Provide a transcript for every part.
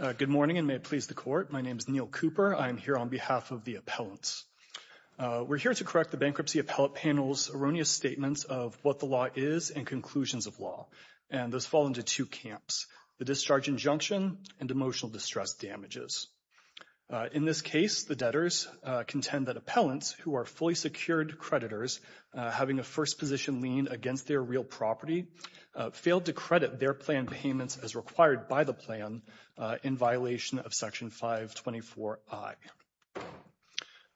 Good morning and may it please the Court. My name is Neil Cooper. I am here on behalf of the appellants. We're here to correct the Bankruptcy Appellate Panel's erroneous statements of what the law is and conclusions of law, and those fall into two camps, the discharge injunction and emotional distress damages. In this case, the debtors contend that appellants, who are fully secured creditors having a first position lien against their real property, failed to credit their plan payments as required by the plan in violation of Section 524I.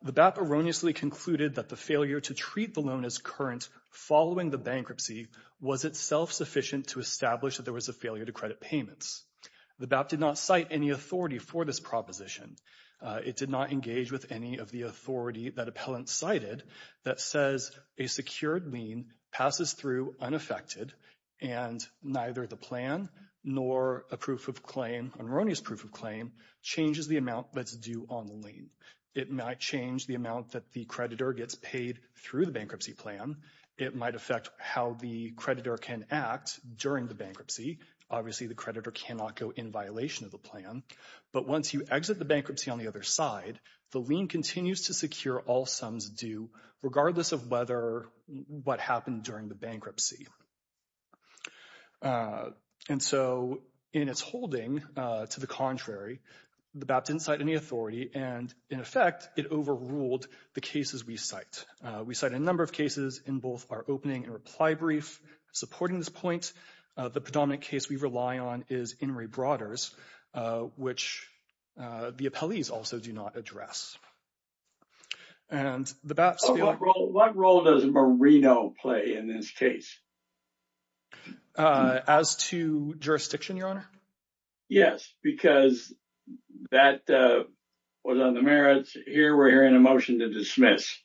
The BAP erroneously concluded that the failure to treat the loan as current following the bankruptcy was itself sufficient to establish that there was a failure to credit payments. The BAP did not cite any authority for this proposition. It did not engage with any of the authority that appellants cited that says a secured lien passes through unaffected and neither the plan nor a proof of claim, an erroneous proof of claim, changes the amount that's due on the lien. It might change the amount that the creditor gets paid through the bankruptcy plan. It might affect how the creditor can act during the bankruptcy. Obviously, the creditor cannot go in violation of the plan, but once you exit the bankruptcy on the other side, the lien continues to secure all sums due regardless of whether what happened during the bankruptcy. And so in its holding, to the contrary, the BAP didn't cite any authority and in effect it overruled the cases we cite. We cite a number of cases in both our opening and reply brief supporting this point. The predominant case we rely on is In re Broaders, which the appellees also do not address. And the BAPs. What role does Marino play in this case? As to jurisdiction, your honor? Yes, because that was on the merits here. We're hearing a motion to dismiss.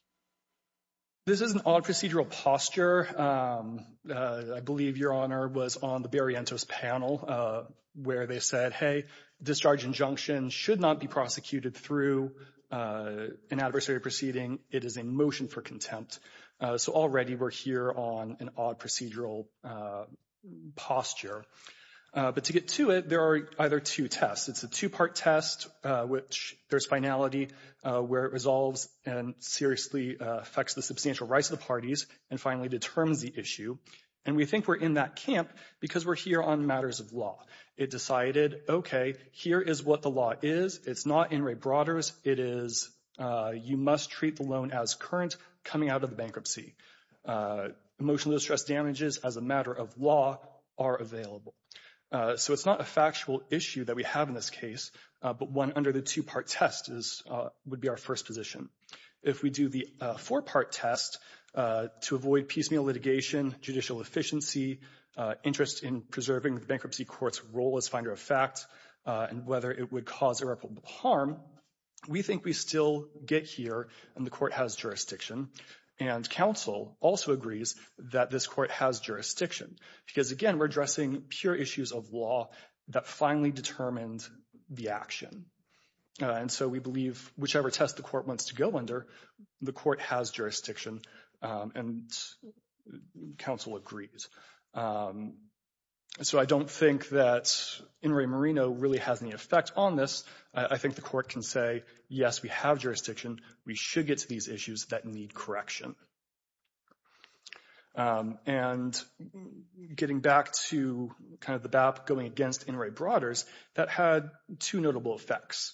This is an odd procedural posture. I believe your honor was on the Berrientos panel where they said, hey, discharge injunction should not be prosecuted through an adversary proceeding. It is a motion for contempt. So already we're here on an odd procedural posture. But to get to it, there are either two tests. It's a two part test, which there's finality where it resolves and seriously affects the substantial rights of the parties and finally determines the issue. And we think we're in that camp because we're here on matters of law. It decided, OK, here is what the law is. It's not In re Broaders. It is you must treat the loan as current coming out of the bankruptcy. Emotional distress damages as a matter of law are available. So it's not a factual issue that we have in this case, but one under the two part test would be our first position. If we do the four part test to avoid piecemeal litigation, judicial efficiency, interest in preserving the bankruptcy court's role as finder of fact and whether it would cause irreparable harm, we think we still get here and the court has jurisdiction. And counsel also agrees that this court has jurisdiction because, again, we're addressing pure issues of law that finally determined the action. And so we believe whichever test the court wants to go under, the court has jurisdiction and counsel agrees. So I don't think that In re Merino really has any effect on this. I think the court can say, yes, we have jurisdiction. We should get to these issues that need correction. And getting back to kind of the BAP going against In re Broaders, that had two notable effects.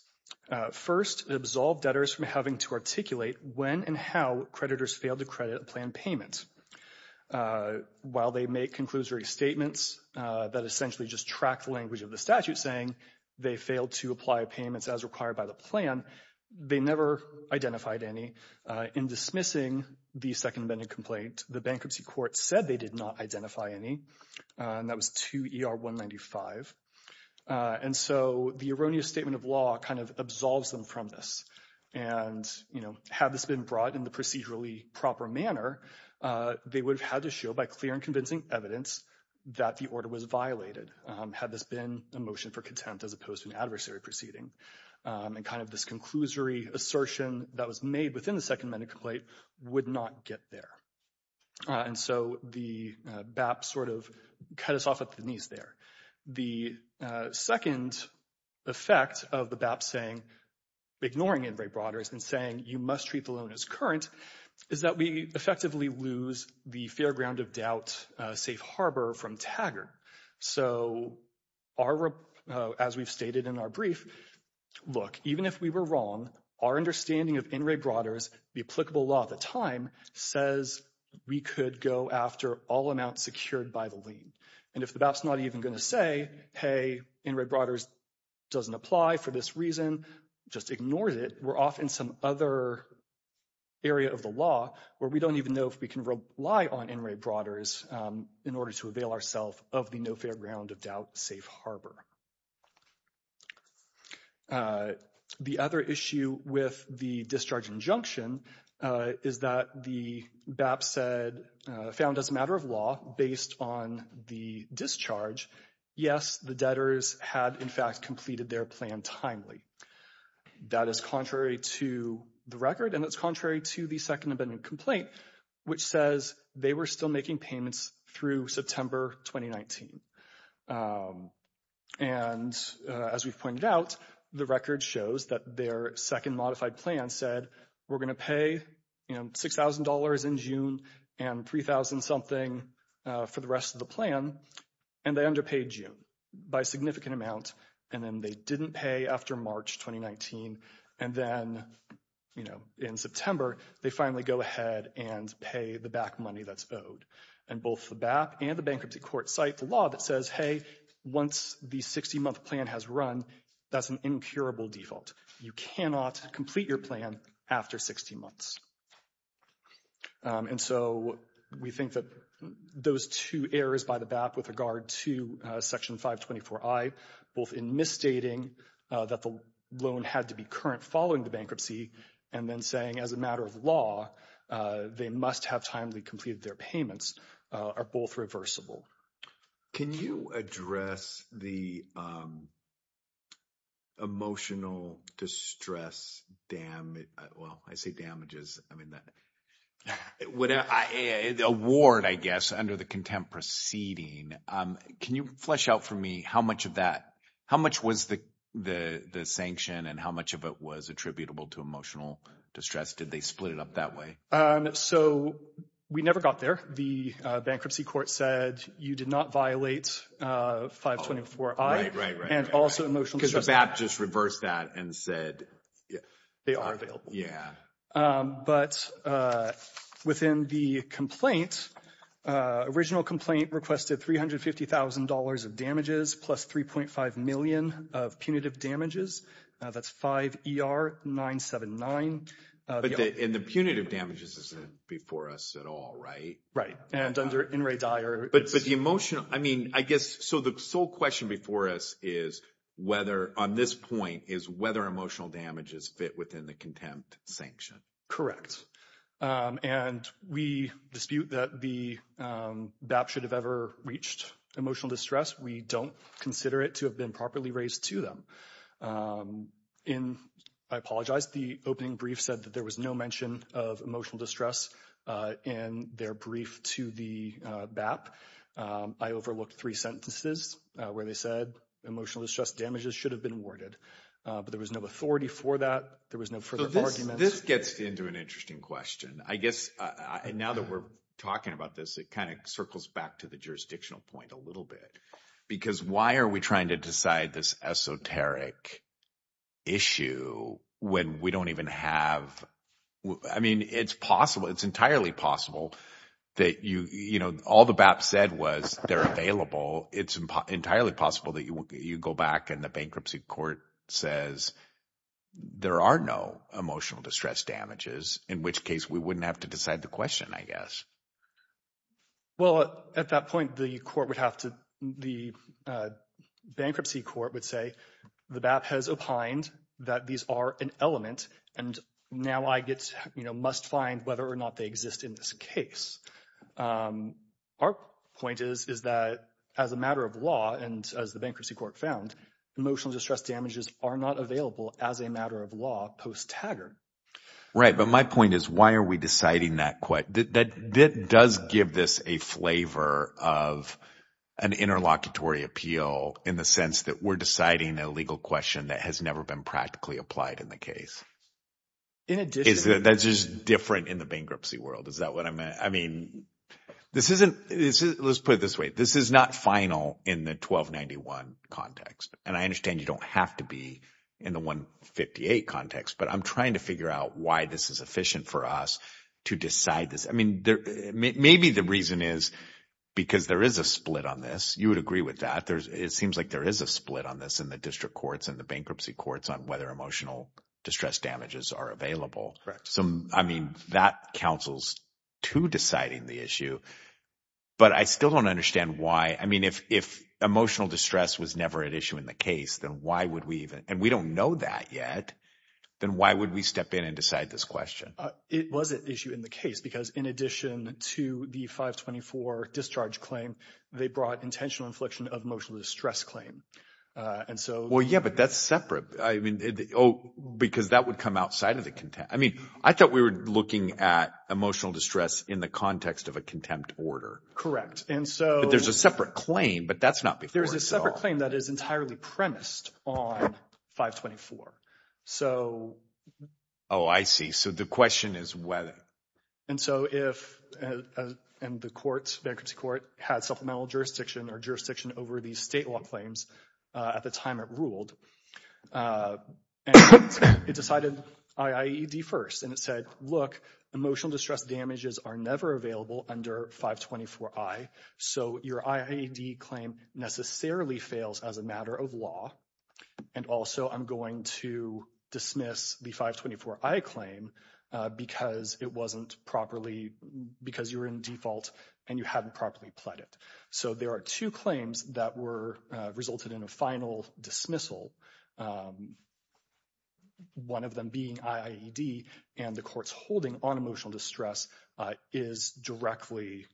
First, it absolved debtors from having to articulate when and how creditors failed to credit a plan payment. While they make conclusory statements that essentially just track the language of the statute saying they failed to apply payments as required by the plan, they never identified any. In dismissing the second vending complaint, the bankruptcy court said they did not identify any, and that was 2 ER 195. And so the erroneous statement of law kind of absolves them from this. And, you know, had this been brought in the procedurally proper manner, they would have had to show by clear and convincing evidence that the order was violated had this been a motion for contempt as opposed to an adversary proceeding. And kind of this conclusory assertion that was made within the second vending complaint would not get there. And so the BAP sort of cut us off at the knees there. The second effect of the BAP saying, ignoring In re Broaders, and saying you must treat the loan as current, is that we effectively lose the fair ground of doubt safe harbor from Taggart. So our, as we've stated in our brief, look, even if we were wrong, our understanding of In re Broaders, the applicable law at the time, says we could go after all amounts secured by the lien. And if the BAP's not even going to say, hey, In re Broaders doesn't apply for this reason, just ignored it, we're off in some other area of the law where we don't even know if we can rely on In re Broaders in order to avail ourselves of the no fair ground of doubt safe harbor. The other issue with the discharge injunction is that the BAP said, found as a matter of law, based on the discharge, yes, the debtors had in fact completed their plan timely. That is contrary to the record, and it's contrary to the second vending complaint, which says they were still through September 2019. And as we've pointed out, the record shows that their second modified plan said we're going to pay $6,000 in June and $3,000 something for the rest of the plan, and they underpaid June by a significant amount, and then they didn't pay after March 2019, and then, you know, in September, they finally go ahead and pay the back money that's owed. And both the BAP and the bankruptcy court cite the law that says, hey, once the 60-month plan has run, that's an incurable default. You cannot complete your plan after 60 months. And so we think that those two errors by the BAP with regard to Section 524i, both in misstating that the loan had to be current following the bankruptcy, and then saying as a matter of law, they must have timely completed their payments, are both reversible. Can you address the emotional distress damage, well, I say damages, I mean, award, I guess, under the contempt proceeding. Can you flesh out for me how much of that, the sanction, and how much of it was attributable to emotional distress? Did they split it up that way? So we never got there. The bankruptcy court said you did not violate 524i, and also emotional distress. Because the BAP just reversed that and said... They are available. Yeah. But within the complaint, original complaint requested $350,000 of damages plus $3.5 million of punitive damages. That's 5ER979. And the punitive damages isn't before us at all, right? Right. And under NRA Dyer... But the emotional, I mean, I guess, so the sole question before us is whether, on this point, is whether emotional damages fit within the contempt sanction. Correct. And we dispute that the BAP should have ever reached emotional distress. We don't consider it to have been properly raised to them. In, I apologize, the opening brief said that there was no mention of emotional distress in their brief to the BAP. I overlooked three sentences where they said emotional distress damages should have been awarded. But there was no authority for that. There was no further argument. This gets into an interesting question. I guess, now that we're talking about this, it kind of circles back to the jurisdictional point a little bit. Because why are we trying to decide this esoteric issue when we don't even have... I mean, it's possible. It's entirely possible that you, you know, all the BAP said was they're available. It's entirely possible that you go back and the bankruptcy court says there are no emotional distress damages, in which case we wouldn't have to decide the question, I guess. Well, at that point, the court would have to, the bankruptcy court would say the BAP has opined that these are an element. And now I get, you know, must find whether or not they exist in this case. Our point is, is that as a matter of law, and as the bankruptcy court found, emotional distress damages are not available as a matter of law post-Taggart. Right. But my point is, why are we deciding that? That does give this a flavor of an interlocutory appeal in the sense that we're deciding a legal question that has never been practically applied in the case. That's just different in the bankruptcy world. Is that what I mean? This isn't, let's put it this way. This is not final in the 1291 context. And I understand you don't have to be in the 158 context, but I'm trying to figure out why this is efficient for us to decide this. I mean, maybe the reason is because there is a split on this. You would agree with that. It seems like there is a split on this in the district courts and the bankruptcy courts on whether emotional distress damages are available. I mean, that counsels to deciding the issue, but I still don't understand why. I mean, if emotional distress was never an issue in the case, then why would we even, and we don't know that yet, then why would we step in and decide this question? It was an issue in the case because in addition to the 524 discharge claim, they brought intentional infliction of emotional distress claim. And so, well, yeah, but that's separate. I mean, because that would come outside of the content. I mean, I thought we were looking at emotional distress in the context of a contempt order. Correct. And so... But there's a separate claim, but that's not before us at all. There's a separate claim that is entirely premised on 524. So... Oh, I see. So the question is whether... And so if, and the courts, bankruptcy court had supplemental jurisdiction or jurisdiction over these state law claims at the time it ruled, and it decided IAED first, and it said, look, emotional distress damages are never available under 524I. So your IAED claim necessarily fails as a matter of law. And also I'm going to dismiss the 524I claim because it wasn't properly, because you're in default and you haven't properly pled it. So there are two claims that were, resulted in a final dismissal. One of them being IAED and the court's holding on emotional distress is directly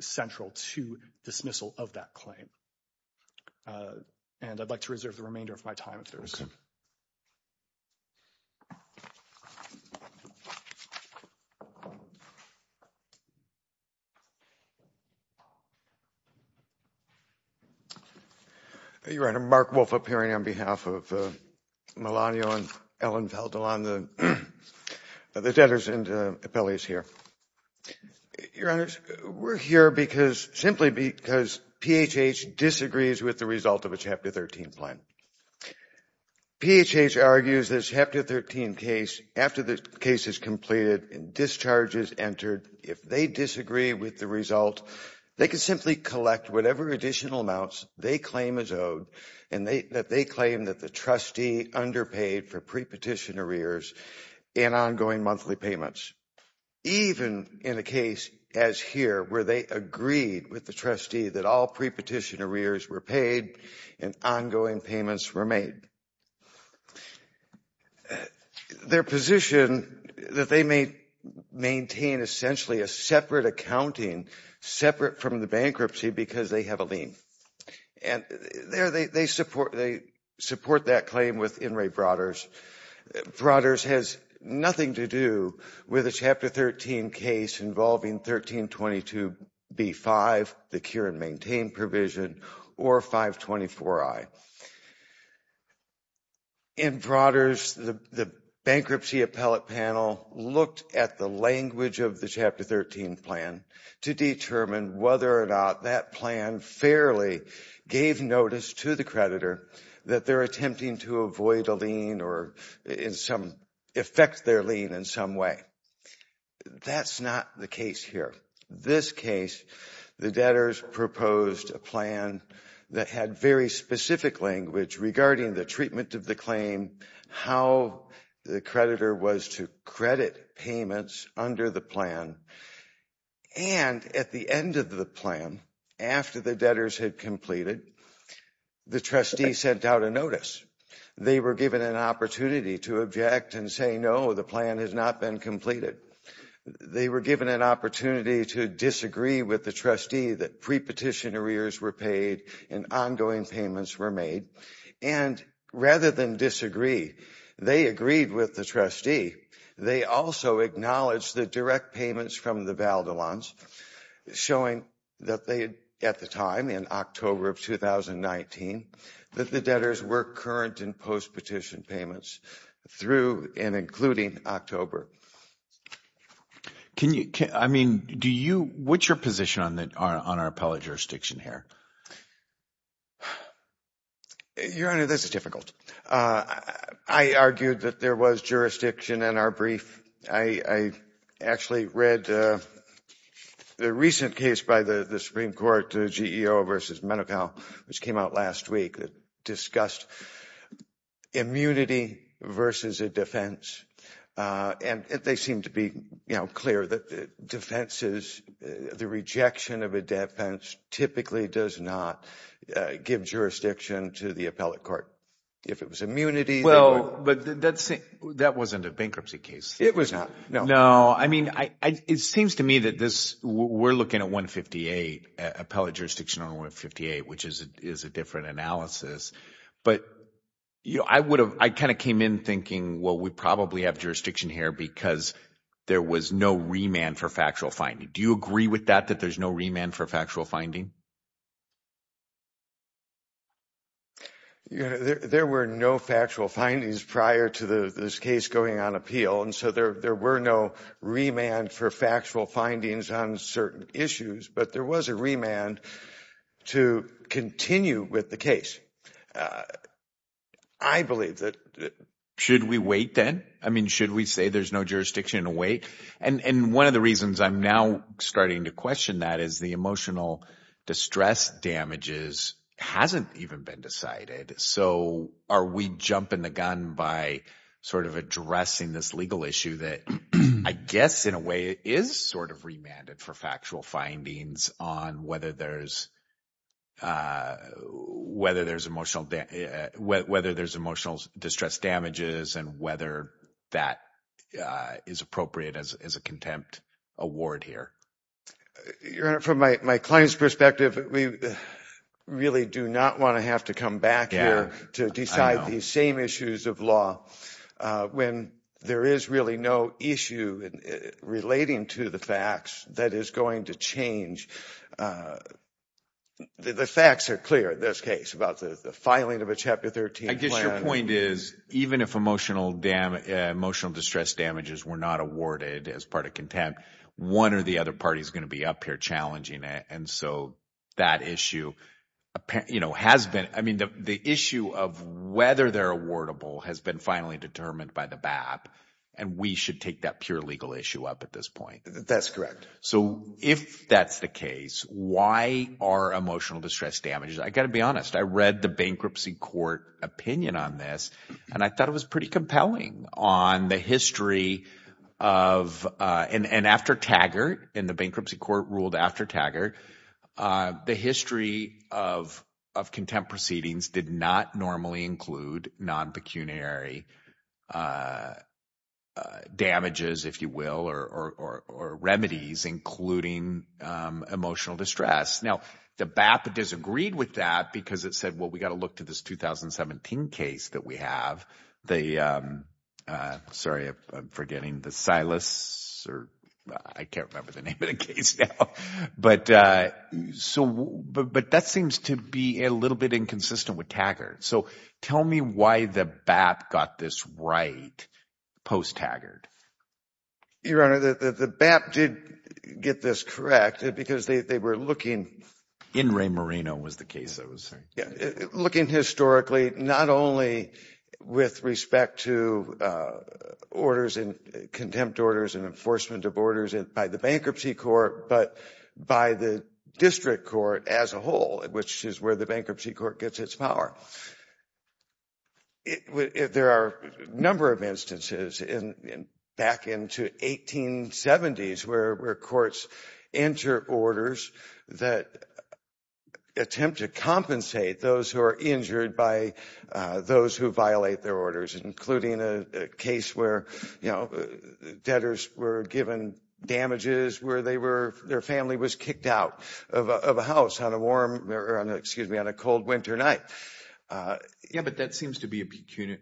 central to dismissal of that claim. And I'd like to reserve the remainder of my time if there's... Your Honor, Mark Wolf appearing on behalf of Melania and Ellen Valdelan, the debtors and appellees here. Your Honor, we're here because, simply because PHH disagrees with the result of the Chapter 13 plan. PHH argues this Chapter 13 case, after the case is completed and discharges entered, if they disagree with the result, they can simply collect whatever additional amounts they claim is owed, and that they claim that the trustee underpaid for pre-petition arrears and ongoing monthly payments. Even in a case as here, where they agreed with the trustee that all pre-petition arrears were paid and ongoing payments were made. Their position that they may maintain essentially a separate accounting, separate from the bankruptcy because they have a lien. And there they support that claim with In re Broaders. Broaders has nothing to do with a Chapter 13 case involving 1322B5, the cure and maintain provision, or 524I. In Broaders, the bankruptcy appellate panel looked at the language of the Chapter 13 plan to determine whether or not that plan fairly gave notice to the creditor that they're attempting to avoid a lien or in some effect their lien in some way. That's not the case here. This case, the debtors proposed a plan that had very specific language regarding the treatment of the claim, how the creditor was to credit payments under the plan. And at the end of the plan, after the debtors had completed, the trustee sent out a notice. They were given an opportunity to object and say, no, the plan has not been completed. They were given an opportunity to disagree with the trustee that pre-petition arrears were paid and ongoing payments were made. And rather than disagree, they agreed with the trustee. They also acknowledged the direct payments from the Valdolans, showing that they, at the time in October of 2019, that the debtors were current in post-petition payments through and including October. Can you, I mean, do you, what's your position on our appellate jurisdiction here? Your Honor, this is difficult. I argued that there was jurisdiction in our brief. I actually read the recent case by the Supreme Court, the GEO versus Menocal, which came out last week that discussed immunity versus a defense. And they seem to be clear that the rejection of a defense typically does not give jurisdiction to the appellate court. If it was immunity. Well, but that wasn't a bankruptcy case. It was not. No. No. I mean, it seems to me that this, we're looking at 158, appellate jurisdiction on 158, which is a different analysis. But I would have, I kind of came in thinking, well, we probably have jurisdiction here because there was no remand for factual finding. Do you agree with that, that there's no remand for factual finding? Your Honor, there were no factual findings prior to this case going on appeal. And so there were no remand for factual findings on certain issues, but there was a remand to continue with the case. I believe that. Should we wait then? I mean, should we say there's no jurisdiction to wait? And one of the reasons I'm now starting to question that is the emotional distress damages hasn't even been decided. So are we jumping the gun by sort of addressing this legal issue that I guess in a way is sort of remanded for factual findings on whether there's whether there's emotional distress damages and whether that is appropriate as a contempt award here. Your Honor, from my client's perspective, we really do not want to have to come back here to decide these same issues of law when there is really no issue relating to the facts that is going to change. The facts are clear in this case about the filing of a Chapter 13 plan. I guess your point is even if emotional distress damages were not awarded as part of contempt, one or the other party is going to be up here challenging it. And so that issue has been, I mean, the issue of whether they're awardable has been finally determined by the BAP and we should take that pure legal issue up at this point. That's correct. So if that's the case, why are emotional distress damages? I got to be honest. I read the bankruptcy court opinion on this and I thought it was pretty compelling on the history of and after Taggart in the bankruptcy court ruled after Taggart, the history of of contempt proceedings did not normally include non-pecuniary damages, if you will, or remedies including emotional distress. Now, the BAP disagreed with that because it said, well, we got to look to this 2017 case that we have. Sorry, I'm forgetting the Silas or I can't remember the name of the case now. But that seems to be a little bit inconsistent with Taggart. So tell me why the BAP got this right post-Taggart. Your Honor, the BAP did get this correct because they were looking. In Ray Moreno was the case. Looking historically, not only with respect to orders and contempt orders and enforcement of by the bankruptcy court, but by the district court as a whole, which is where the bankruptcy court gets its power. There are a number of instances in back into 1870s where courts enter orders that attempt to compensate those who are injured by those who violate their orders, including a case where, you know, debtors were given damages, where they were, their family was kicked out of a house on a warm, excuse me, on a cold winter night. Yeah, but that seems to be a pecuniary,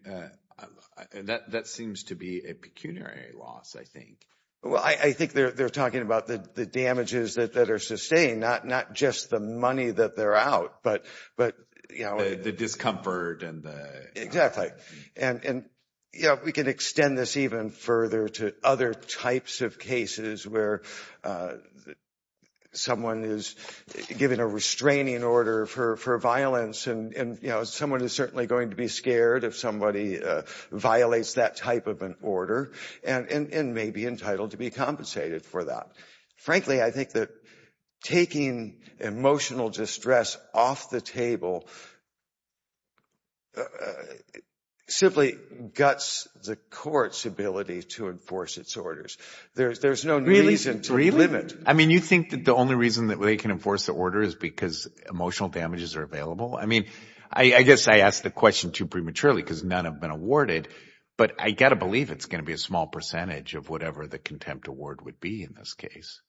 that seems to be a pecuniary loss, I think. Well, I think they're talking about the damages that are sustained, not just the money that they're out, but, you know, the discomfort and the... Exactly. And, you know, we can extend this even further to other types of cases where someone is given a restraining order for violence and, you know, someone is certainly going to be scared if somebody violates that type of an order and may be entitled to be compensated for that. Frankly, I think that taking emotional distress off the table simply guts the court's ability to enforce its orders. There's no reason to... Really? Really? I mean, you think that the only reason that they can enforce the order is because emotional damages are available? I mean, I guess I asked the question too prematurely because none have been awarded, but I got to believe it's going to be a small percentage of whatever the contempt award would be in this case.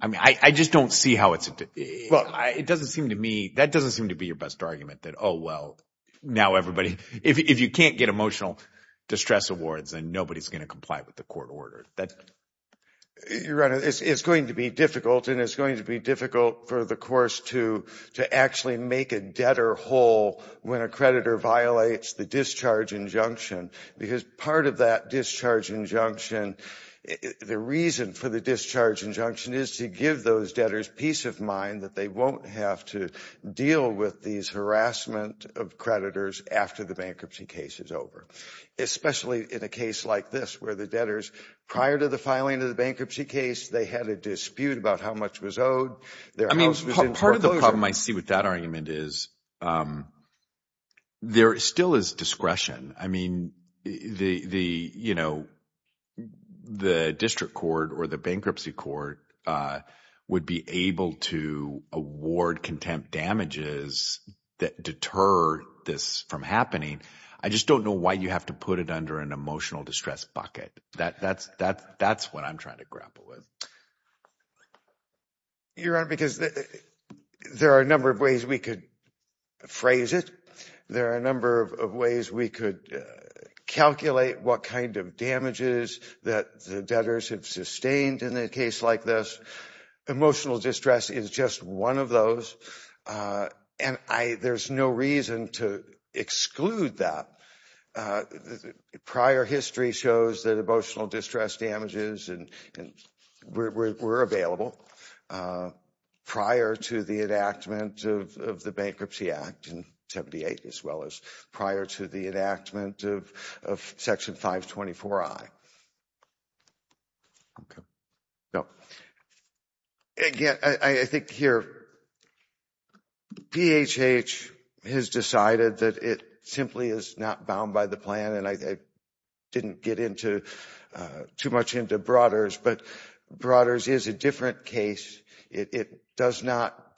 I mean, I just don't see how it's... Well, it doesn't seem to me, that doesn't seem to be your best argument that, oh, well, now everybody... If you can't get emotional distress awards, then nobody's going to comply with the court order. Your Honor, it's going to be difficult and it's going to be difficult for the course to actually make a debtor whole when a creditor violates the discharge injunction because part of that discharge injunction, the reason for the discharge injunction is to give those debtors peace of mind that they won't have to deal with these harassment of creditors after the bankruptcy case is over, especially in a case like this where the debtors, prior to the filing of the bankruptcy case, they had a dispute about how much was owed. I mean, part of the problem I see with that argument is there still is discretion. I mean, the district court or the bankruptcy court would be able to award contempt damages that deter this from happening. I just don't know why you have to put it under an emotional distress bucket. That's what I'm trying to grapple with. Your Honor, because there are a number of ways we could phrase it. There are a number of ways we could calculate what kind of damages that the debtors have sustained in a case like this. Emotional distress is just one of those, and there's no reason to exclude that. Prior history shows that emotional distress damages were available prior to the enactment of the Bankruptcy Act in 1978 as well as prior to the enactment of Section 524I. Again, I think here, PHH has decided that it simply is not bound by the plan, and I didn't get into too much into Broaders, but Broaders is a different case. It does not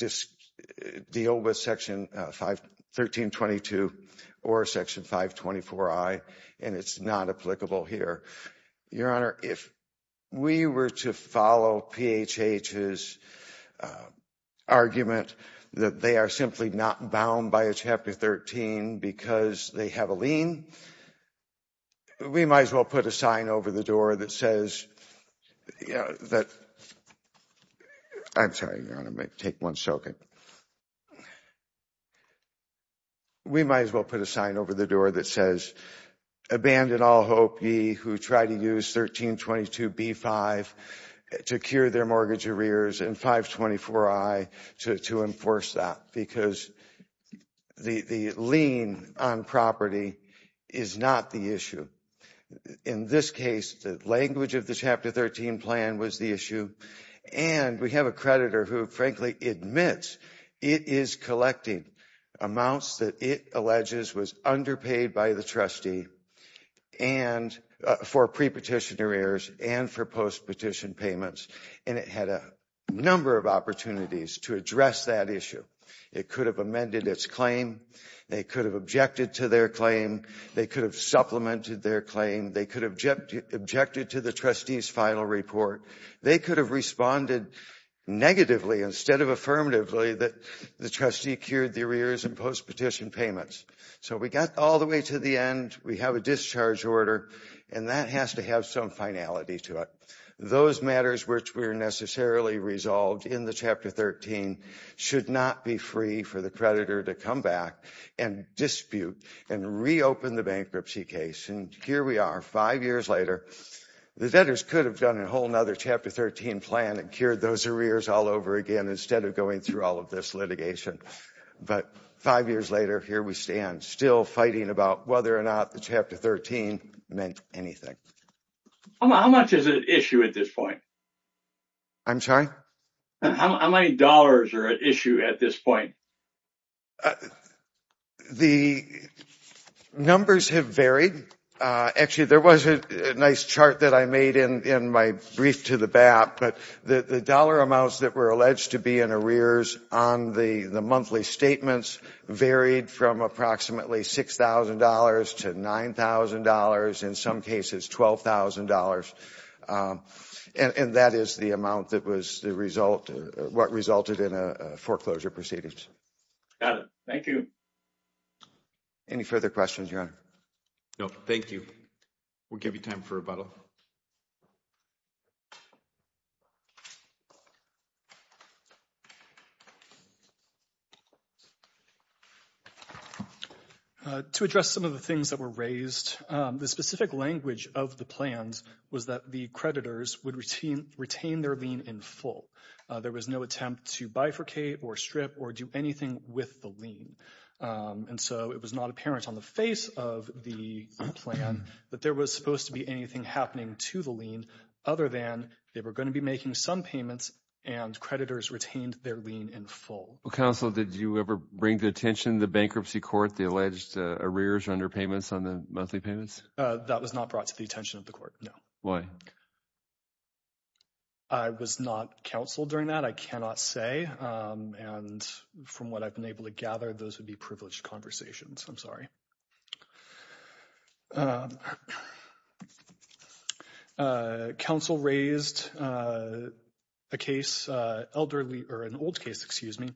deal with Section 1322 or Section 524I. It's not applicable here. Your Honor, if we were to follow PHH's argument that they are simply not bound by a Chapter 13 because they have a lien, we might as well put a sign over the door that says, I'm sorry, Your Honor, I might take one second. We might as well put a sign over the door that says, abandon all hope ye who try to use 1322B5 to cure their mortgage arrears and 524I to enforce that because the lien on property is not the issue. In this case, the language of the is collecting amounts that it alleges was underpaid by the trustee for pre-petition arrears and for post-petition payments, and it had a number of opportunities to address that issue. It could have amended its claim. They could have objected to their claim. They could have supplemented their claim. They could have objected to the trustee's final report. They could have responded negatively instead of affirmatively that the trustee cured the arrears and post-petition payments. So we got all the way to the end. We have a discharge order, and that has to have some finality to it. Those matters which were necessarily resolved in the Chapter 13 should not be free for the creditor to come back and dispute and reopen the bankruptcy case. And here we are five years later. The debtors could have done a whole other Chapter 13 plan and cured those arrears all over again instead of going through all of this litigation. But five years later, here we stand, still fighting about whether or not the Chapter 13 meant anything. How much is at issue at this point? I'm sorry? How many dollars are at issue at this point? The numbers have varied. Actually, there was a nice chart that I made in my brief to the BAP, but the dollar amounts that were alleged to be in arrears on the monthly statements varied from approximately $6,000 to $9,000, in some cases $12,000. And that is the amount that was what resulted in a foreclosure proceedings. Got it. Thank you. Any further questions, Your Honor? No, thank you. We'll give you time for rebuttal. To address some of the things that were raised, the specific language of the plans was that the creditors would retain their lien in full. There was no attempt to bifurcate or strip or do anything with the lien. And so it was not apparent on the face of the plan that there was supposed to be anything happening to the lien, other than they were going to be making some payments and creditors retained their lien in full. Counsel, did you ever bring to attention the bankruptcy court, the alleged arrears under payments on the monthly payments? That was not brought to the attention of the court, no. Why? I was not counseled during that, I cannot say. And from what I've been able to gather, those would be privileged conversations. I'm sorry. Counsel raised a case, elderly or an old case, excuse me,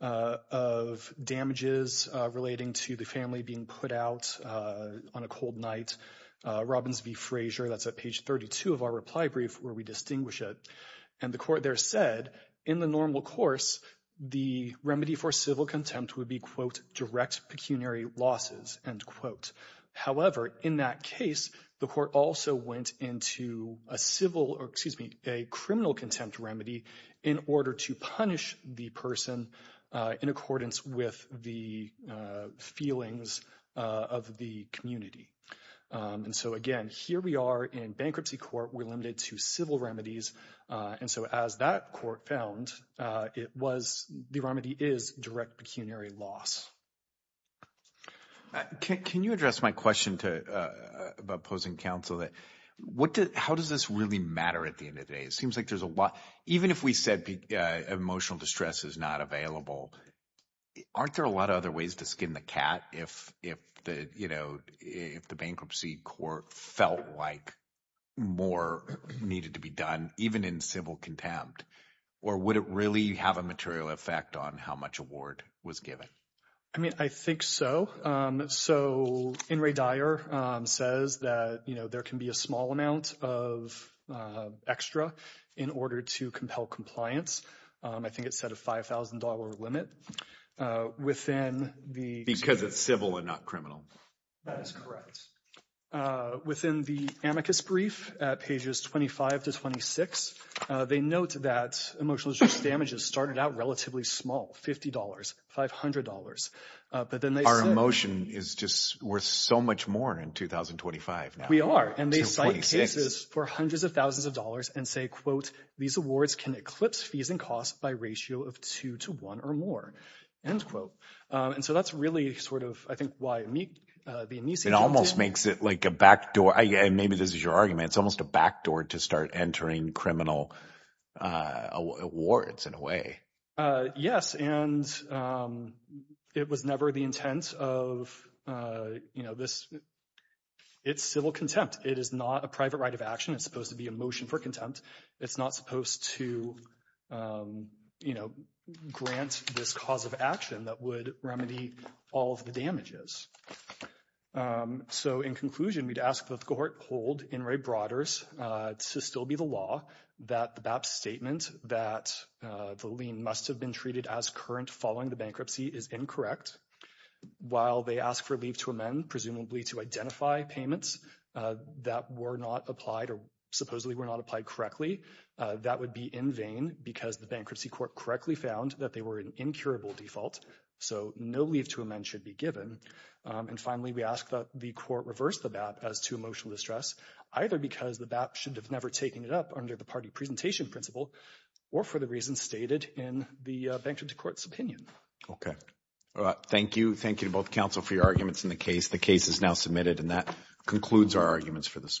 of damages relating to the family being put out on a cold night. Robbins v. Frazier, that's at page 32 of our reply brief, where we distinguish it. And the court there said, in the normal course, the remedy for civil contempt would be, quote, direct pecuniary losses, end quote. However, in that case, the court also went into a civil, or excuse me, a criminal contempt remedy in order to punish the person in accordance with the feelings of the community. And so again, here we are in bankruptcy court, we're limited to civil remedies. And so as that court found, it was, the remedy is direct pecuniary loss. Can you address my question about opposing counsel? How does this really matter at the time when counsel distress is not available? Aren't there a lot of other ways to skin the cat if the bankruptcy court felt like more needed to be done, even in civil contempt? Or would it really have a material effect on how much award was given? I mean, I think so. So, In re dire says that there can be a small amount of extra in order to compel compliance. I think it's set a $5,000 limit. Because it's civil and not criminal. That is correct. Within the amicus brief at pages 25 to 26, they note that emotional distress damages started out relatively small, $50, $500. But then they said... Our emotion is just worth so much more in 2025 now. We are. And they cite cases for hundreds of thousands of dollars and say, quote, these awards can eclipse fees and costs by ratio of two to one or more, end quote. And so that's really sort of, I think, why the amici... It almost makes it like a backdoor. And maybe this is your argument, it's almost a backdoor to start entering criminal awards in a way. Yes. And it was never the intent of, you know, this. It's civil contempt. It is not a private right of action. It's supposed to be a motion for contempt. It's not supposed to, you know, grant this cause of action that would remedy all of the damages. So, in conclusion, we'd ask that the court hold In re broaders to still be the law that the BAP statement that the lien must have been treated as current following the bankruptcy is incorrect. While they ask for leave to amend, presumably to identify payments that were not applied or supposedly were not applied correctly, that would be in vain because the bankruptcy court correctly found that they were an incurable default. So no leave to amend should be given. And finally, we ask that the court reverse the BAP as to emotional distress, either because the BAP should have never taken it up under the party presentation principle, or for the reasons stated in the bankruptcy court's opinion. Okay. Thank you. Thank you to both counsel for your arguments in the case. The case is now submitted and that concludes our arguments for this morning.